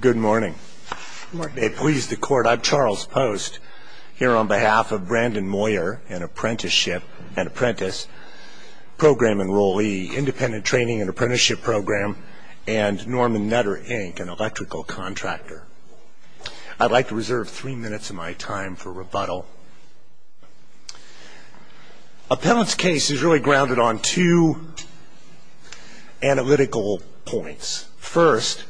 Good morning. Good morning. May it please the Court, I'm Charles Post, here on behalf of Brandon Moyer, an apprentice, Program Enrollee, Independent Training and Apprenticeship Program, and Norman Nutter, Inc., an electrical contractor. I'd like to reserve three minutes of my time for rebuttal. A penalty case is really grounded on two analytical points. First,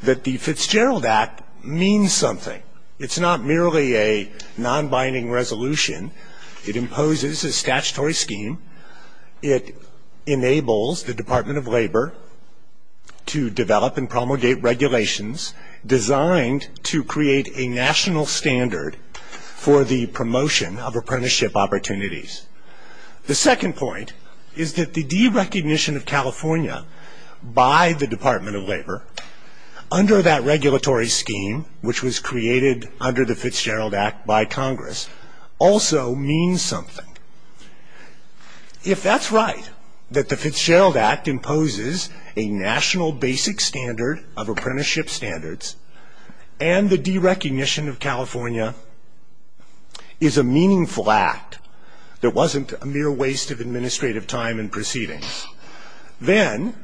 that the Fitzgerald Act means something. It's not merely a non-binding resolution. It imposes a statutory scheme. It enables the Department of Labor to develop and promulgate regulations designed to create a national standard for the promotion of apprenticeship opportunities. The second point is that the derecognition of California by the Department of Labor under that regulatory scheme, which was created under the Fitzgerald Act by Congress, also means something. If that's right, that the Fitzgerald Act imposes a national basic standard of apprenticeship standards and the derecognition of California is a meaningful act, there wasn't a mere waste of administrative time in proceeding, then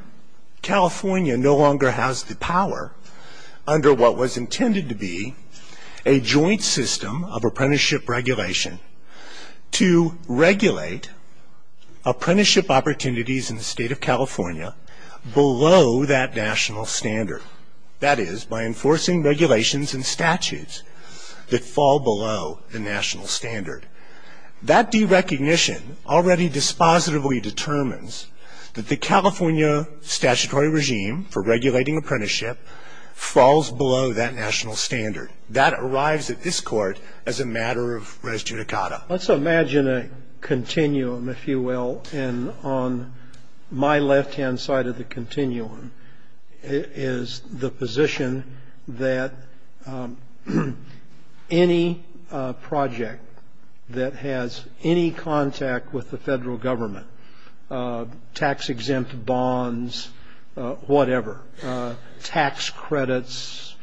California no longer has the power under what was intended to be a joint system of apprenticeship regulation to regulate apprenticeship opportunities in the state of California below that national standard. That is, by enforcing regulations and statutes that fall below the national standard. That derecognition already dispositively determines that the California statutory regime for regulating apprenticeship falls below that national standard. That arrives at this court as a matter of res judicata. Let's imagine a continuum, if you will. And on my left-hand side of the continuum is the position that any project that has any contact with the federal government, tax-exempt bonds, whatever, tax credits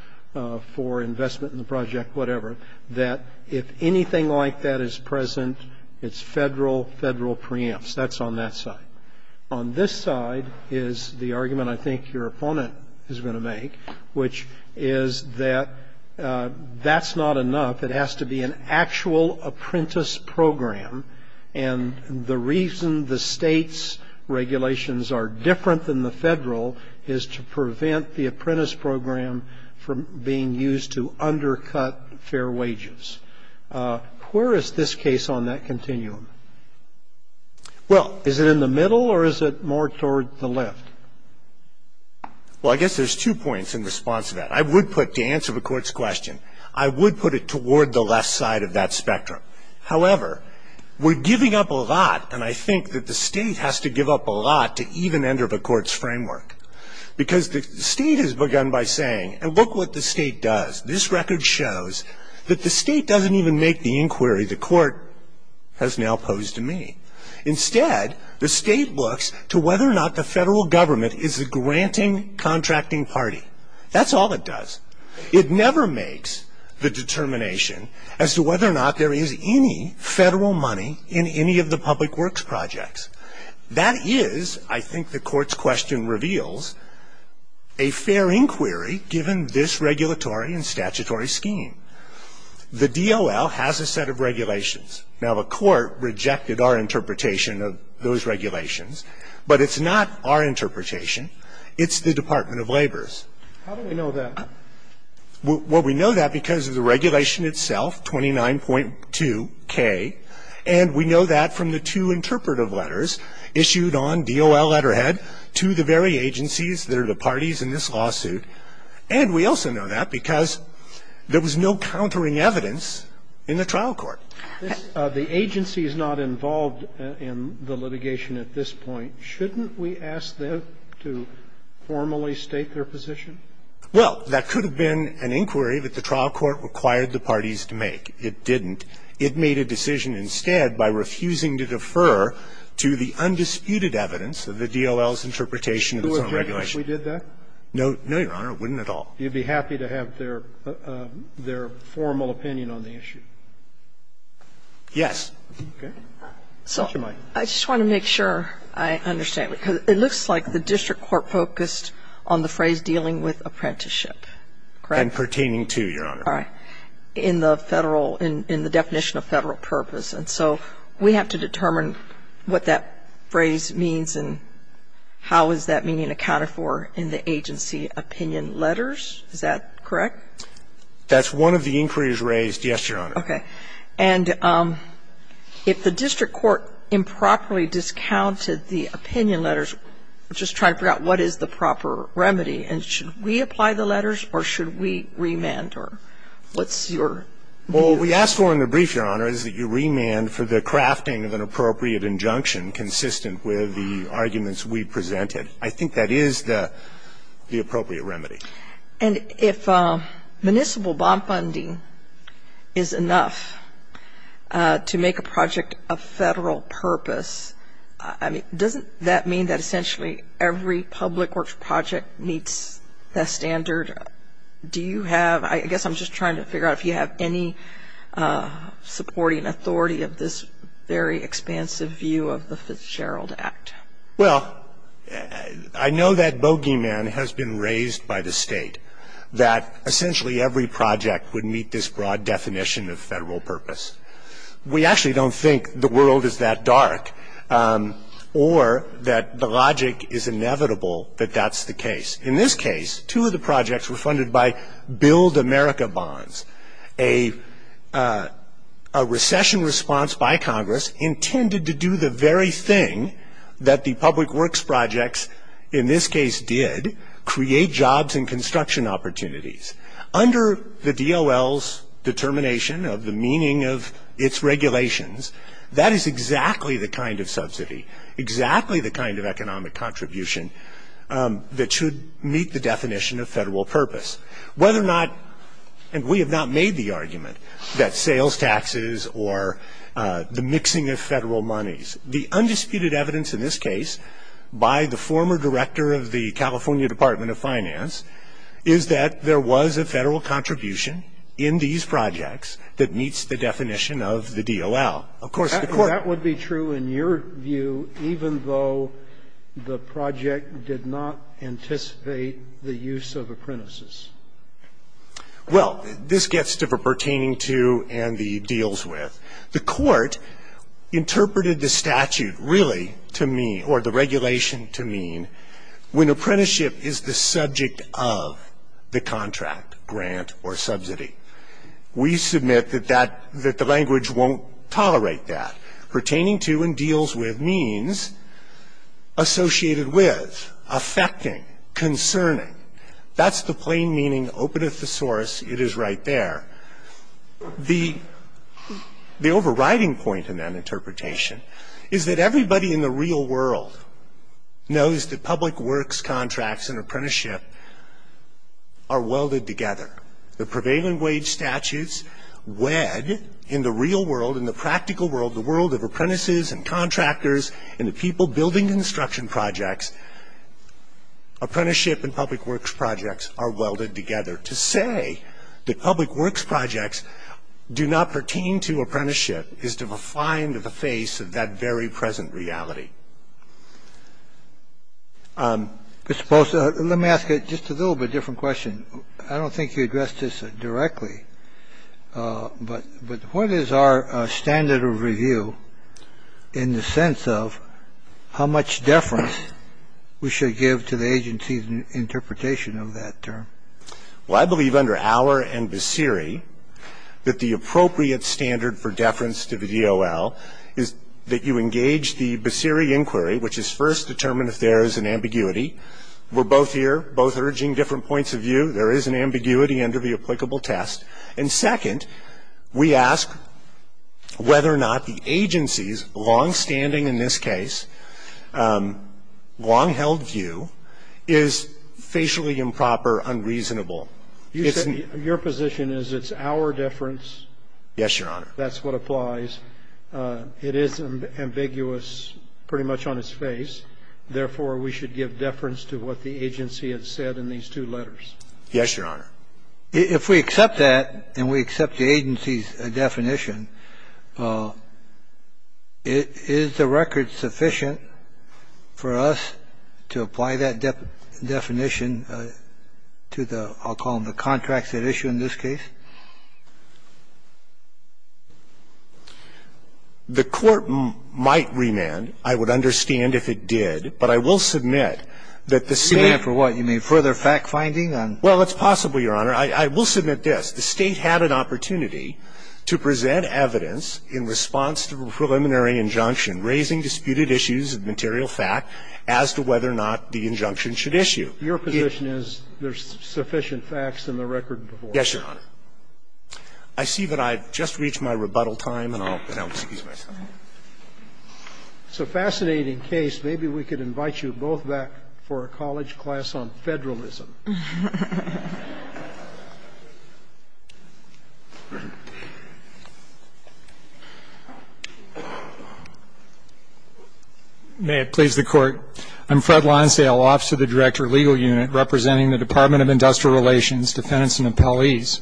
for investment in the project, whatever, that if anything like that is present, it's federal, federal preempts. That's on that side. On this side is the argument I think your opponent is going to make, which is that that's not enough. It has to be an actual apprentice program. And the reason the state's regulations are different than the federal is to prevent the apprentice program from being used to undercut fair wages. Where is this case on that continuum? Well, is it in the middle or is it more toward the left? Well, I guess there's two points in response to that. I would put, to answer the Court's question, I would put it toward the left side of that spectrum. However, we're giving up a lot, and I think that the State has to give up a lot to even enter the Court's framework. Because the State has begun by saying, and look what the State does. This record shows that the State doesn't even make the inquiry the Court has now posed to me. Instead, the State looks to whether or not the federal government is a granting contracting party. That's all it does. It never makes the determination as to whether or not there is any federal money in any of the public works projects. That is, I think the Court's question reveals, a fair inquiry given this regulatory and statutory scheme. The DOL has a set of regulations. Now, the Court rejected our interpretation of those regulations, but it's not our interpretation. It's the Department of Labor's. How do we know that? Well, we know that because of the regulation itself, 29.2k. And we know that from the two interpretive letters issued on DOL letterhead to the very agencies that are the parties in this lawsuit. And we also know that because there was no countering evidence in the trial court. The agency is not involved in the litigation at this point. Shouldn't we ask them to formally state their position? Well, that could have been an inquiry that the trial court required the parties to make. It didn't. It made a decision instead by refusing to defer to the undisputed evidence of the DOL's interpretation of its own regulation. Who would agree if we did that? No, Your Honor, it wouldn't at all. You'd be happy to have their formal opinion on the issue? Yes. Okay. So I just want to make sure I understand, because it looks like the district court focused on the phrase dealing with apprenticeship, correct? And pertaining to, Your Honor. All right. And the district court is not involved in the litigation. It's not involved in the federal, in the definition of federal purpose. And so we have to determine what that phrase means and how is that meaning accounted for in the agency opinion letters? Is that correct? That's one of the inquiries raised, yes, Your Honor. Okay. And if the district court improperly discounted the opinion letters, just trying to figure out what is the proper remedy, and should we apply the letters or should we remand or what's your view? Well, what we asked for in the brief, Your Honor, is that you remand for the crafting of an appropriate injunction consistent with the arguments we presented. I think that is the appropriate remedy. And if municipal bond funding is enough to make a project a federal purpose, I mean, doesn't that mean that essentially every public works project meets that standard? Do you have, I guess I'm just trying to figure out if you have any supporting authority of this very expansive view of the Fitzgerald Act? Well, I know that bogeyman has been raised by the State that essentially every project would meet this broad definition of federal purpose. We actually don't think the world is that dark or that the logic is inevitable that that's the case. In this case, two of the projects were funded by Build America Bonds, a recession response by Congress intended to do the very thing that the public works projects in this case did, create jobs and construction opportunities. Under the DOL's determination of the meaning of its regulations, that is exactly the kind of subsidy, exactly the kind of economic contribution that should meet the definition of federal purpose. Whether or not, and we have not made the argument that sales taxes or the mixing of Federal monies, the undisputed evidence in this case by the former director of the California Department of Finance is that there was a Federal contribution in these projects that meets the definition of the DOL. Of course, the Court ---- That would be true in your view even though the project did not anticipate the use of apprentices? Well, this gets to the pertaining to and the deals with. The Court interpreted the statute really to mean, or the regulation to mean, when apprenticeship is the subject of the contract, grant, or subsidy. We submit that that the language won't tolerate that. Pertaining to and deals with means associated with, affecting, concerning. That's the plain meaning, openeth the source, it is right there. The overriding point in that interpretation is that everybody in the real world knows that public works contracts and apprenticeship are welded together. The prevailing wage statutes wed in the real world, in the practical world, the world of apprentices and contractors and the people building construction projects. Apprenticeship and public works projects are welded together. To say that public works projects do not pertain to apprenticeship is to refine the face of that very present reality. Mr. Post, let me ask you just a little bit different question. I don't think you addressed this directly. But what is our standard of review in the sense of how much deference we should give to the agency's interpretation of that term? Well, I believe under Auer and Basiri that the appropriate standard for deference to the DOL is that you engage the Basiri inquiry, which is first determine if there is an ambiguity. We're both here, both urging different points of view. There is an ambiguity under the applicable test. And second, we ask whether or not the agency's longstanding, in this case, long-held view is facially improper, unreasonable. You said your position is it's our deference. Yes, Your Honor. That's what applies. It is ambiguous pretty much on its face. Therefore, we should give deference to what the agency has said in these two letters. Yes, Your Honor. If we accept that and we accept the agency's definition, is the record sufficient for us to apply that definition to the, I'll call them the contracts at issue in this case? The Court might remand. I would understand if it did. But I will submit that the same ---- Remand for what? You mean further fact-finding? Well, it's possible, Your Honor. I will submit this. The State had an opportunity to present evidence in response to a preliminary injunction raising disputed issues of material fact as to whether or not the injunction should issue. Your position is there's sufficient facts in the record before us? Yes, Your Honor. I see that I've just reached my rebuttal time, and I'll excuse myself. It's a fascinating case. Maybe we could invite you both back for a college class on federalism. May it please the Court. I'm Fred Lonsdale, Officer of the Director, Legal Unit, representing the Department of Industrial Relations, Defendants and Appellees.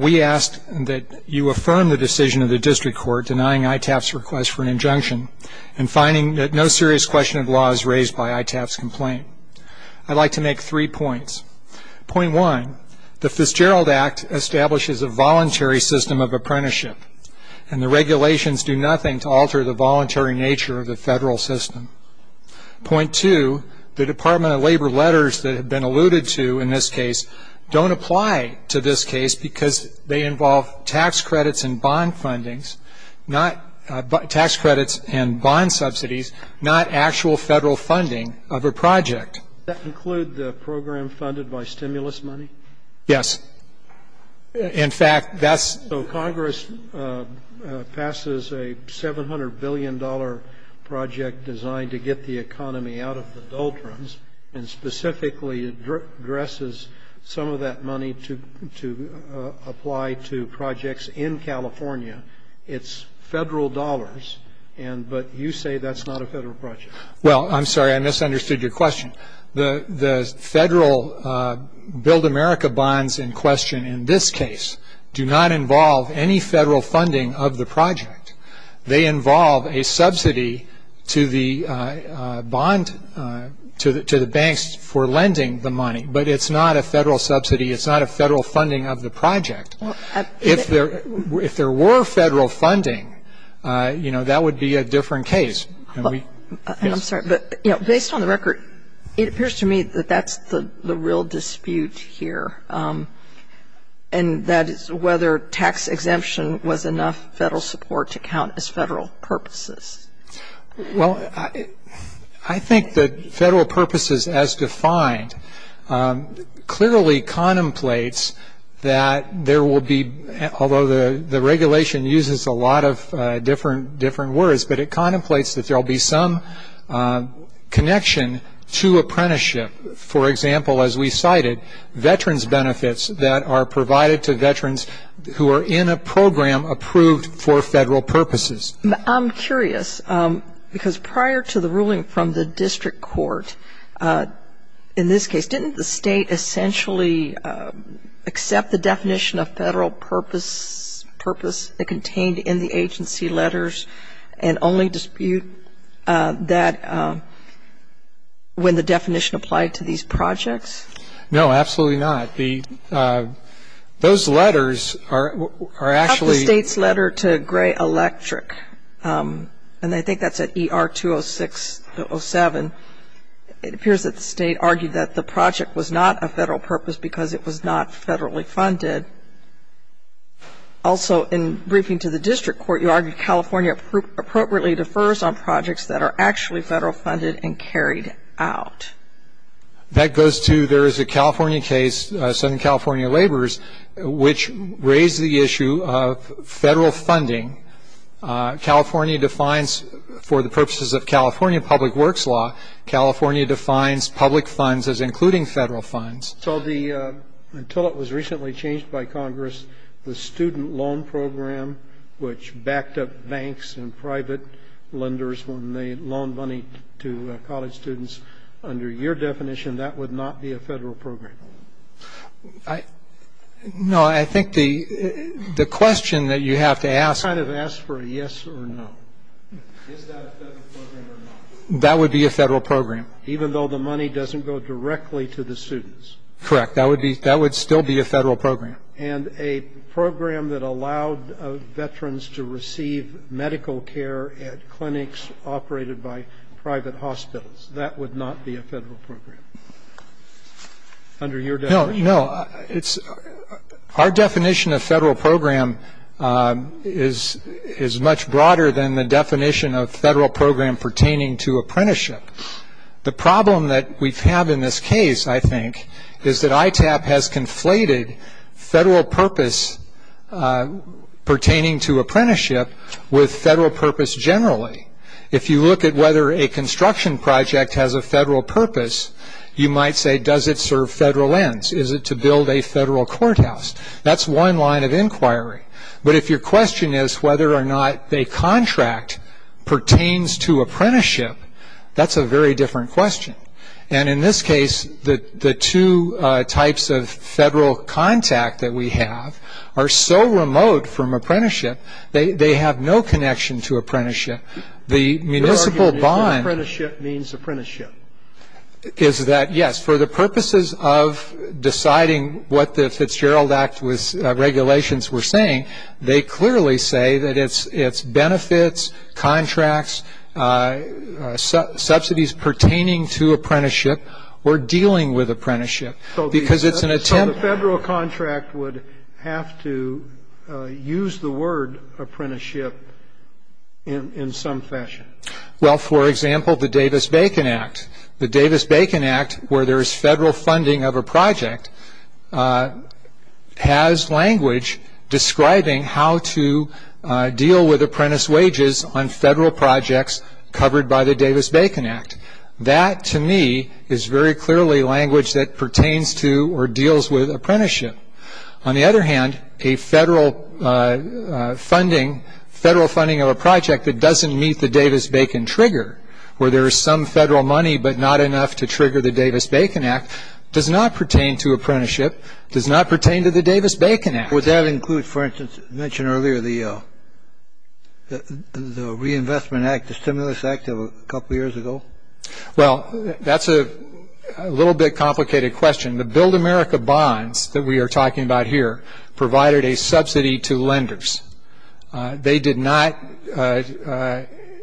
We ask that you affirm the decision of the district court denying ITAP's request for an injunction and finding that no serious question of law is raised by ITAP's complaint. I'd like to make three points. Point one, the Fitzgerald Act establishes a voluntary system of apprenticeship, and the regulations do nothing to alter the voluntary nature of the federal system. Point two, the Department of Labor letters that have been alluded to in this case don't apply to this case because they involve tax credits and bond fundings, not tax credits and bond subsidies, not actual federal funding of a project. Does that include the program funded by stimulus money? Yes. In fact, that's So Congress passes a $700 billion project designed to get the economy out of the doltrums and specifically addresses some of that money to apply to projects in California. It's federal dollars, but you say that's not a federal project. Well, I'm sorry, I misunderstood your question. The federal Build America bonds in question in this case do not involve any federal funding of the project. They involve a subsidy to the bond to the banks for lending the money, but it's not a federal subsidy. It's not a federal funding of the project. If there were federal funding, you know, that would be a different case. And I'm sorry, but, you know, based on the record, it appears to me that that's the real dispute here, and that is whether tax exemption was enough federal support to count as federal purposes. Well, I think that federal purposes as defined clearly contemplates that there will be, although the regulation uses a lot of different words, but it contemplates that there will be some connection to apprenticeship. We do have some data, for example, as we cited, veterans benefits that are provided to veterans who are in a program approved for federal purposes. I'm curious, because prior to the ruling from the district court in this case, didn't the state essentially accept the definition of federal purpose, purpose contained in the agency letters, and only dispute that when the definition applied to these projects? No, absolutely not. Those letters are actually the state's letter to Gray Electric, and I think that's at ER 206-07. It appears that the state argued that the project was not a federal purpose because it was not federally funded. Also, in briefing to the district court, you argued California appropriately defers on projects that are actually federal funded and carried out. That goes to there is a California case, Southern California Laborers, which raised the issue of federal funding. California defines, for the purposes of California public works law, California defines public funds as including federal funds. So until it was recently changed by Congress, the student loan program, which backed up banks and private lenders when they loaned money to college students, under your definition, that would not be a federal program. No. I think the question that you have to ask. Kind of ask for a yes or no. Is that a federal program or not? That would be a federal program. Even though the money doesn't go directly to the students. Correct. That would still be a federal program. And a program that allowed veterans to receive medical care at clinics operated by private hospitals, that would not be a federal program. Under your definition. No. Our definition of federal program is much broader than the definition of federal program pertaining to apprenticeship. The problem that we have in this case, I think, is that ITAP has conflated federal purpose pertaining to apprenticeship with federal purpose generally. If you look at whether a construction project has a federal purpose, you might say, does it serve federal ends? Is it to build a federal courthouse? That's one line of inquiry. But if your question is whether or not a contract pertains to apprenticeship, that's a very different question. And in this case, the two types of federal contact that we have are so remote from apprenticeship, they have no connection to apprenticeship. The municipal bond. Your argument is that apprenticeship means apprenticeship. Is that yes. For the purposes of deciding what the Fitzgerald Act regulations were saying, they clearly say that it's benefits, contracts, subsidies pertaining to apprenticeship, or dealing with apprenticeship. So the federal contract would have to use the word apprenticeship in some fashion. Well, for example, the Davis-Bacon Act. The Davis-Bacon Act, where there is federal funding of a project, has language describing how to deal with apprentice wages on federal projects covered by the Davis-Bacon Act. That, to me, is very clearly language that pertains to or deals with apprenticeship. On the other hand, a federal funding of a project that doesn't meet the Davis-Bacon trigger, where there is some federal money but not enough to trigger the Davis-Bacon Act, does not pertain to apprenticeship, does not pertain to the Davis-Bacon Act. Would that include, for instance, mentioned earlier, the Reinvestment Act, the Stimulus Act of a couple years ago? Well, that's a little bit complicated question. The Build America bonds that we are talking about here provided a subsidy to lenders. They did not, in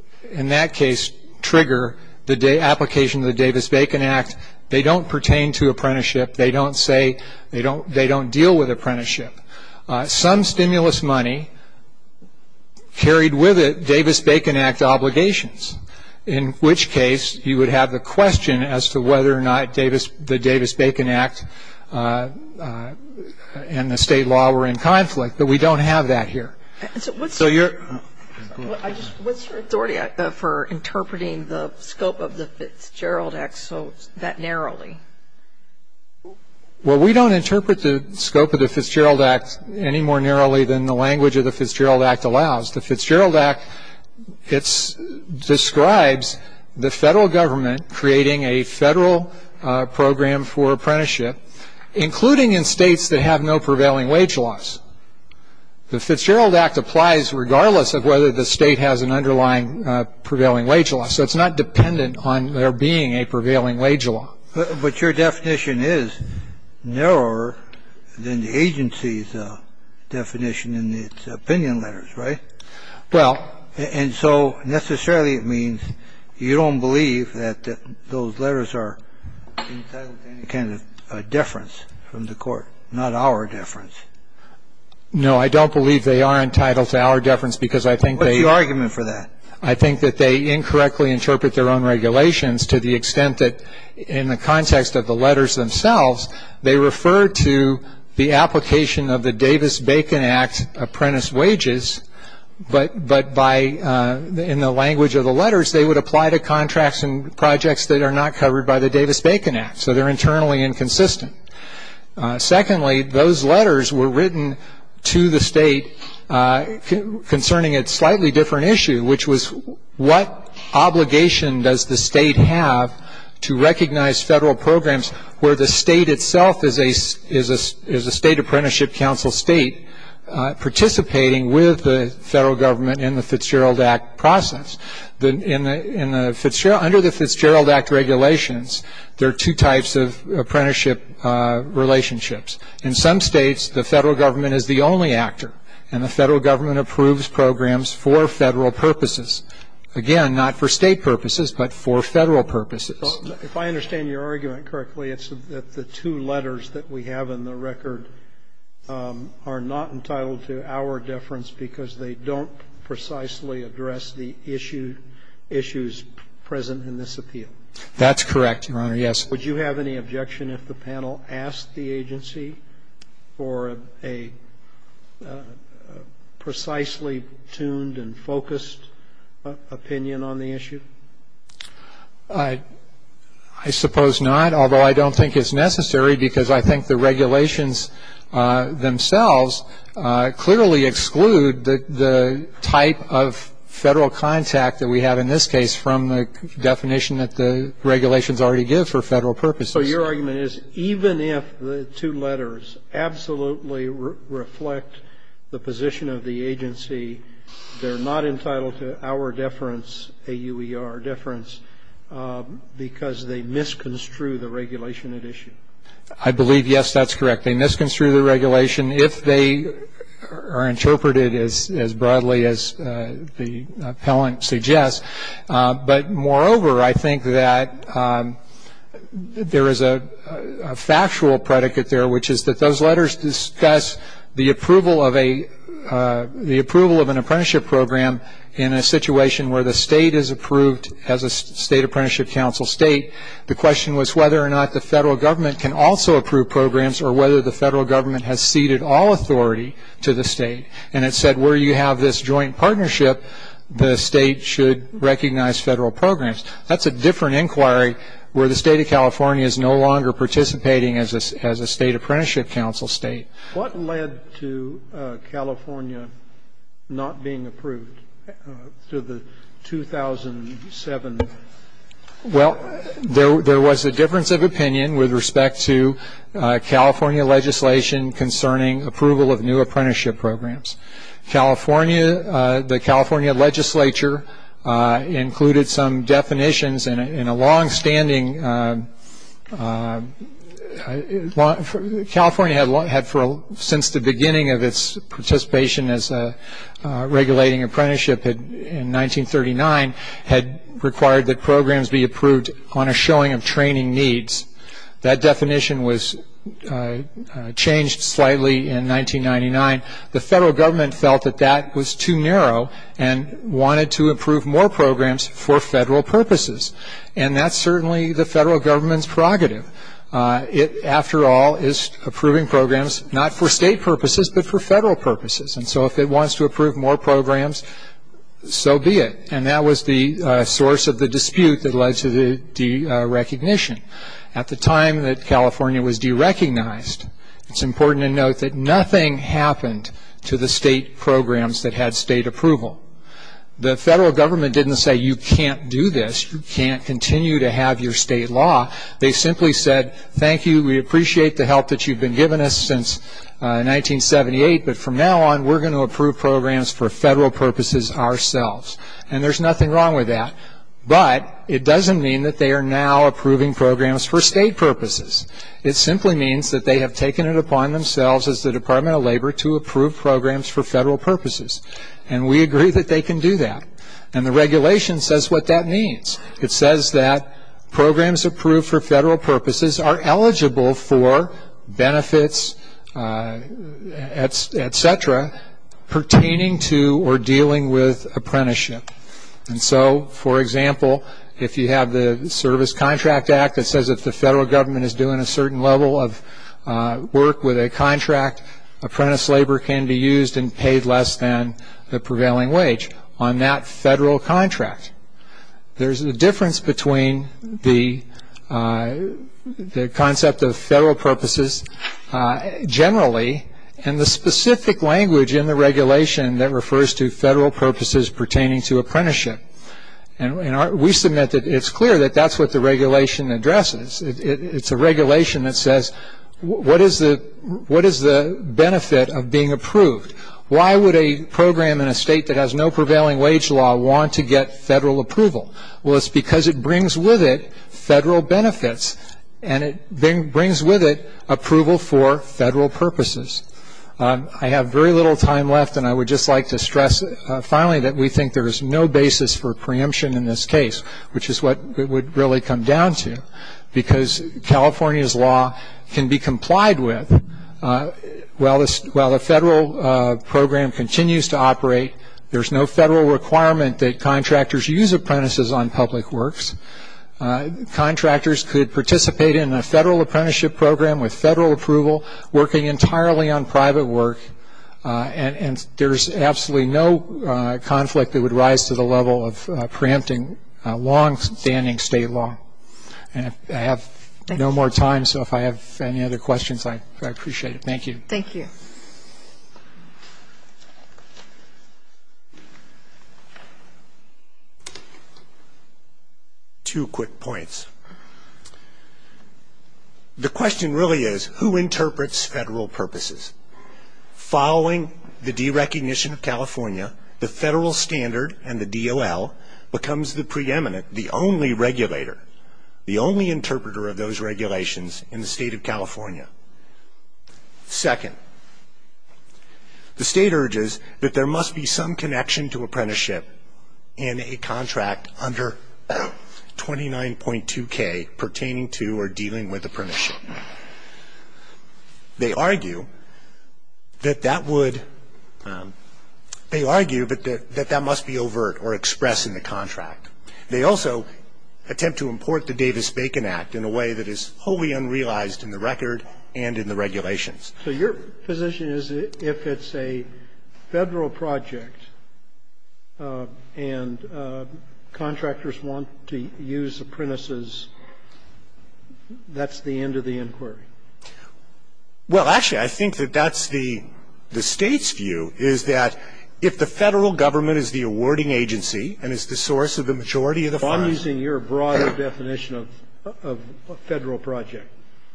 that case, trigger the application of the Davis-Bacon Act. They don't pertain to apprenticeship. They don't deal with apprenticeship. Some stimulus money carried with it Davis-Bacon Act obligations, in which case you would have the question as to whether or not the Davis-Bacon Act and the state law were in conflict, but we don't have that here. What's your authority for interpreting the scope of the Fitzgerald Act so that narrowly? Well, we don't interpret the scope of the Fitzgerald Act any more narrowly than the language of the Fitzgerald Act allows. The Fitzgerald Act, it describes the federal government creating a federal program for apprenticeship, including in states that have no prevailing wage laws. The Fitzgerald Act applies regardless of whether the state has an underlying prevailing wage law, so it's not dependent on there being a prevailing wage law. But your definition is narrower than the agency's definition in its opinion letters, right? Well. And so necessarily it means you don't believe that those letters are entitled to any kind of deference from the court, not our deference. No, I don't believe they are entitled to our deference because I think they are. What's your argument for that? I think that they incorrectly interpret their own regulations to the extent that in the context of the letters themselves, they refer to the application of the Davis-Bacon Act apprentice wages, but in the language of the letters they would apply to contracts and projects that are not covered by the Davis-Bacon Act, so they're internally inconsistent. Secondly, those letters were written to the state concerning a slightly different issue, which was what obligation does the state have to recognize federal programs where the state itself is a State Apprenticeship Council state participating with the federal government in the Fitzgerald Act process. Under the Fitzgerald Act regulations, there are two types of apprenticeship relationships. In some states, the federal government is the only actor, and the federal government approves programs for federal purposes. Again, not for State purposes, but for Federal purposes. If I understand your argument correctly, it's that the two letters that we have in the record are not entitled to our deference because they don't precisely address the issue issues present in this appeal. That's correct, Your Honor, yes. Would you have any objection if the panel asked the agency for a precisely tuned and focused opinion on the issue? I suppose not, although I don't think it's necessary because I think the regulations themselves clearly exclude the type of federal contact that we have in this case from the definition that the regulations already give for federal purposes. So your argument is even if the two letters absolutely reflect the position of the agency, they're not entitled to our deference, A-U-E-R deference, because they misconstrue the regulation at issue? I believe, yes, that's correct. They misconstrue the regulation if they are interpreted as broadly as the appellant suggests. But, moreover, I think that there is a factual predicate there, which is that those letters discuss the approval of an apprenticeship program in a situation where the state is approved as a State Apprenticeship Council state. The question was whether or not the federal government can also approve programs or whether the federal government has ceded all authority to the state. And it said where you have this joint partnership, the state should recognize federal programs. That's a different inquiry where the State of California is no longer participating as a State Apprenticeship Council state. What led to California not being approved to the 2007? Well, there was a difference of opinion with respect to California legislation concerning approval of new apprenticeship programs. California, the California legislature, included some definitions in a long-standing, California had, since the beginning of its participation as a regulating apprenticeship in 1939, had required that programs be approved on a showing of training needs. That definition was changed slightly in 1999. The federal government felt that that was too narrow and wanted to approve more programs for federal purposes. And that's certainly the federal government's prerogative. It, after all, is approving programs not for state purposes but for federal purposes. And so if it wants to approve more programs, so be it. And that was the source of the dispute that led to the derecognition. At the time that California was derecognized, it's important to note that nothing happened to the state programs that had state approval. The federal government didn't say, You can't do this. You can't continue to have your state law. They simply said, Thank you. We appreciate the help that you've been giving us since 1978, but from now on we're going to approve programs for federal purposes ourselves. And there's nothing wrong with that. But it doesn't mean that they are now approving programs for state purposes. It simply means that they have taken it upon themselves as the Department of Labor to approve programs for federal purposes. And we agree that they can do that. And the regulation says what that means. It says that programs approved for federal purposes are eligible for benefits, et cetera, pertaining to or dealing with apprenticeship. And so, for example, if you have the Service Contract Act that says if the federal government is doing a certain level of work with a contract, apprentice labor can be used and paid less than the prevailing wage on that federal contract. There's a difference between the concept of federal purposes generally and the specific language in the regulation that refers to federal purposes pertaining to apprenticeship. And we submit that it's clear that that's what the regulation addresses. It's a regulation that says what is the benefit of being approved? Why would a program in a state that has no prevailing wage law want to get federal approval? Well, it's because it brings with it federal benefits, and it brings with it approval for federal purposes. I have very little time left, and I would just like to stress, finally, that we think there is no basis for preemption in this case, which is what it would really come down to, because California's law can be complied with. While the federal program continues to operate, there's no federal requirement that contractors use apprentices on public works. Contractors could participate in a federal apprenticeship program with federal approval, working entirely on private work, and there's absolutely no conflict that would rise to the level of preempting longstanding state law. And I have no more time, so if I have any other questions, I'd appreciate it. Thank you. Thank you. Two quick points. The question really is, who interprets federal purposes? Following the derecognition of California, the federal standard and the DOL becomes the preeminent, the only regulator, the only interpreter of those regulations in the state of California. Second, the state urges that there must be some connection to apprenticeship in a contract under 29.2K pertaining to or dealing with apprenticeship. They argue that that would, they argue that that must be overt or expressed in the contract. They also attempt to import the Davis-Bacon Act in a way that is wholly unrealized in the record and in the regulations. So your position is if it's a federal project and contractors want to use apprentices, that's the end of the inquiry? Well, actually, I think that that's the state's view, is that if the federal government is the awarding agency and is the source of the majority of the funds. I'm using your broader definition of a federal project.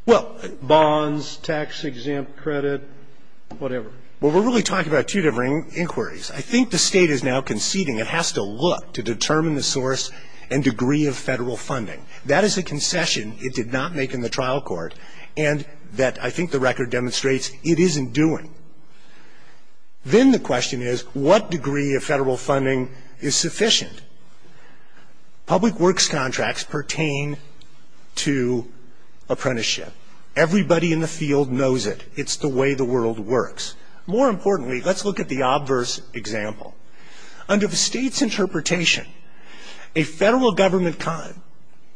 Well. Bonds, tax-exempt credit, whatever. Well, we're really talking about two different inquiries. I think the state is now conceding it has to look to determine the source and degree of federal funding. That is a concession it did not make in the trial court and that I think the record demonstrates it isn't doing. Then the question is what degree of federal funding is sufficient? Public works contracts pertain to apprenticeship. Everybody in the field knows it. It's the way the world works. More importantly, let's look at the obverse example. Under the state's interpretation, a federal government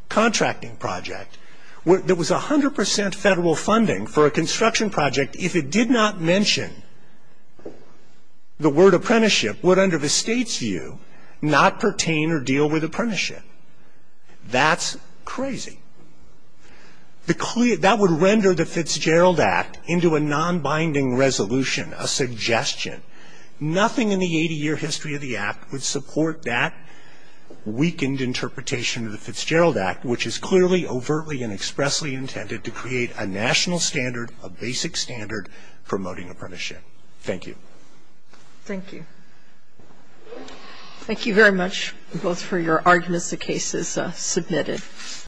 contracting project that was 100 percent federal funding for a construction project, if it did not mention the word apprenticeship, would under the state's view not pertain or deal with apprenticeship. That's crazy. That would render the Fitzgerald Act into a non-binding resolution, a suggestion. Nothing in the 80-year history of the Act would support that weakened interpretation of the Fitzgerald Act, which is clearly, overtly, and expressly intended to create a national standard, a basic standard promoting apprenticeship. Thank you. Thank you. Thank you very much both for your arguments, the cases submitted.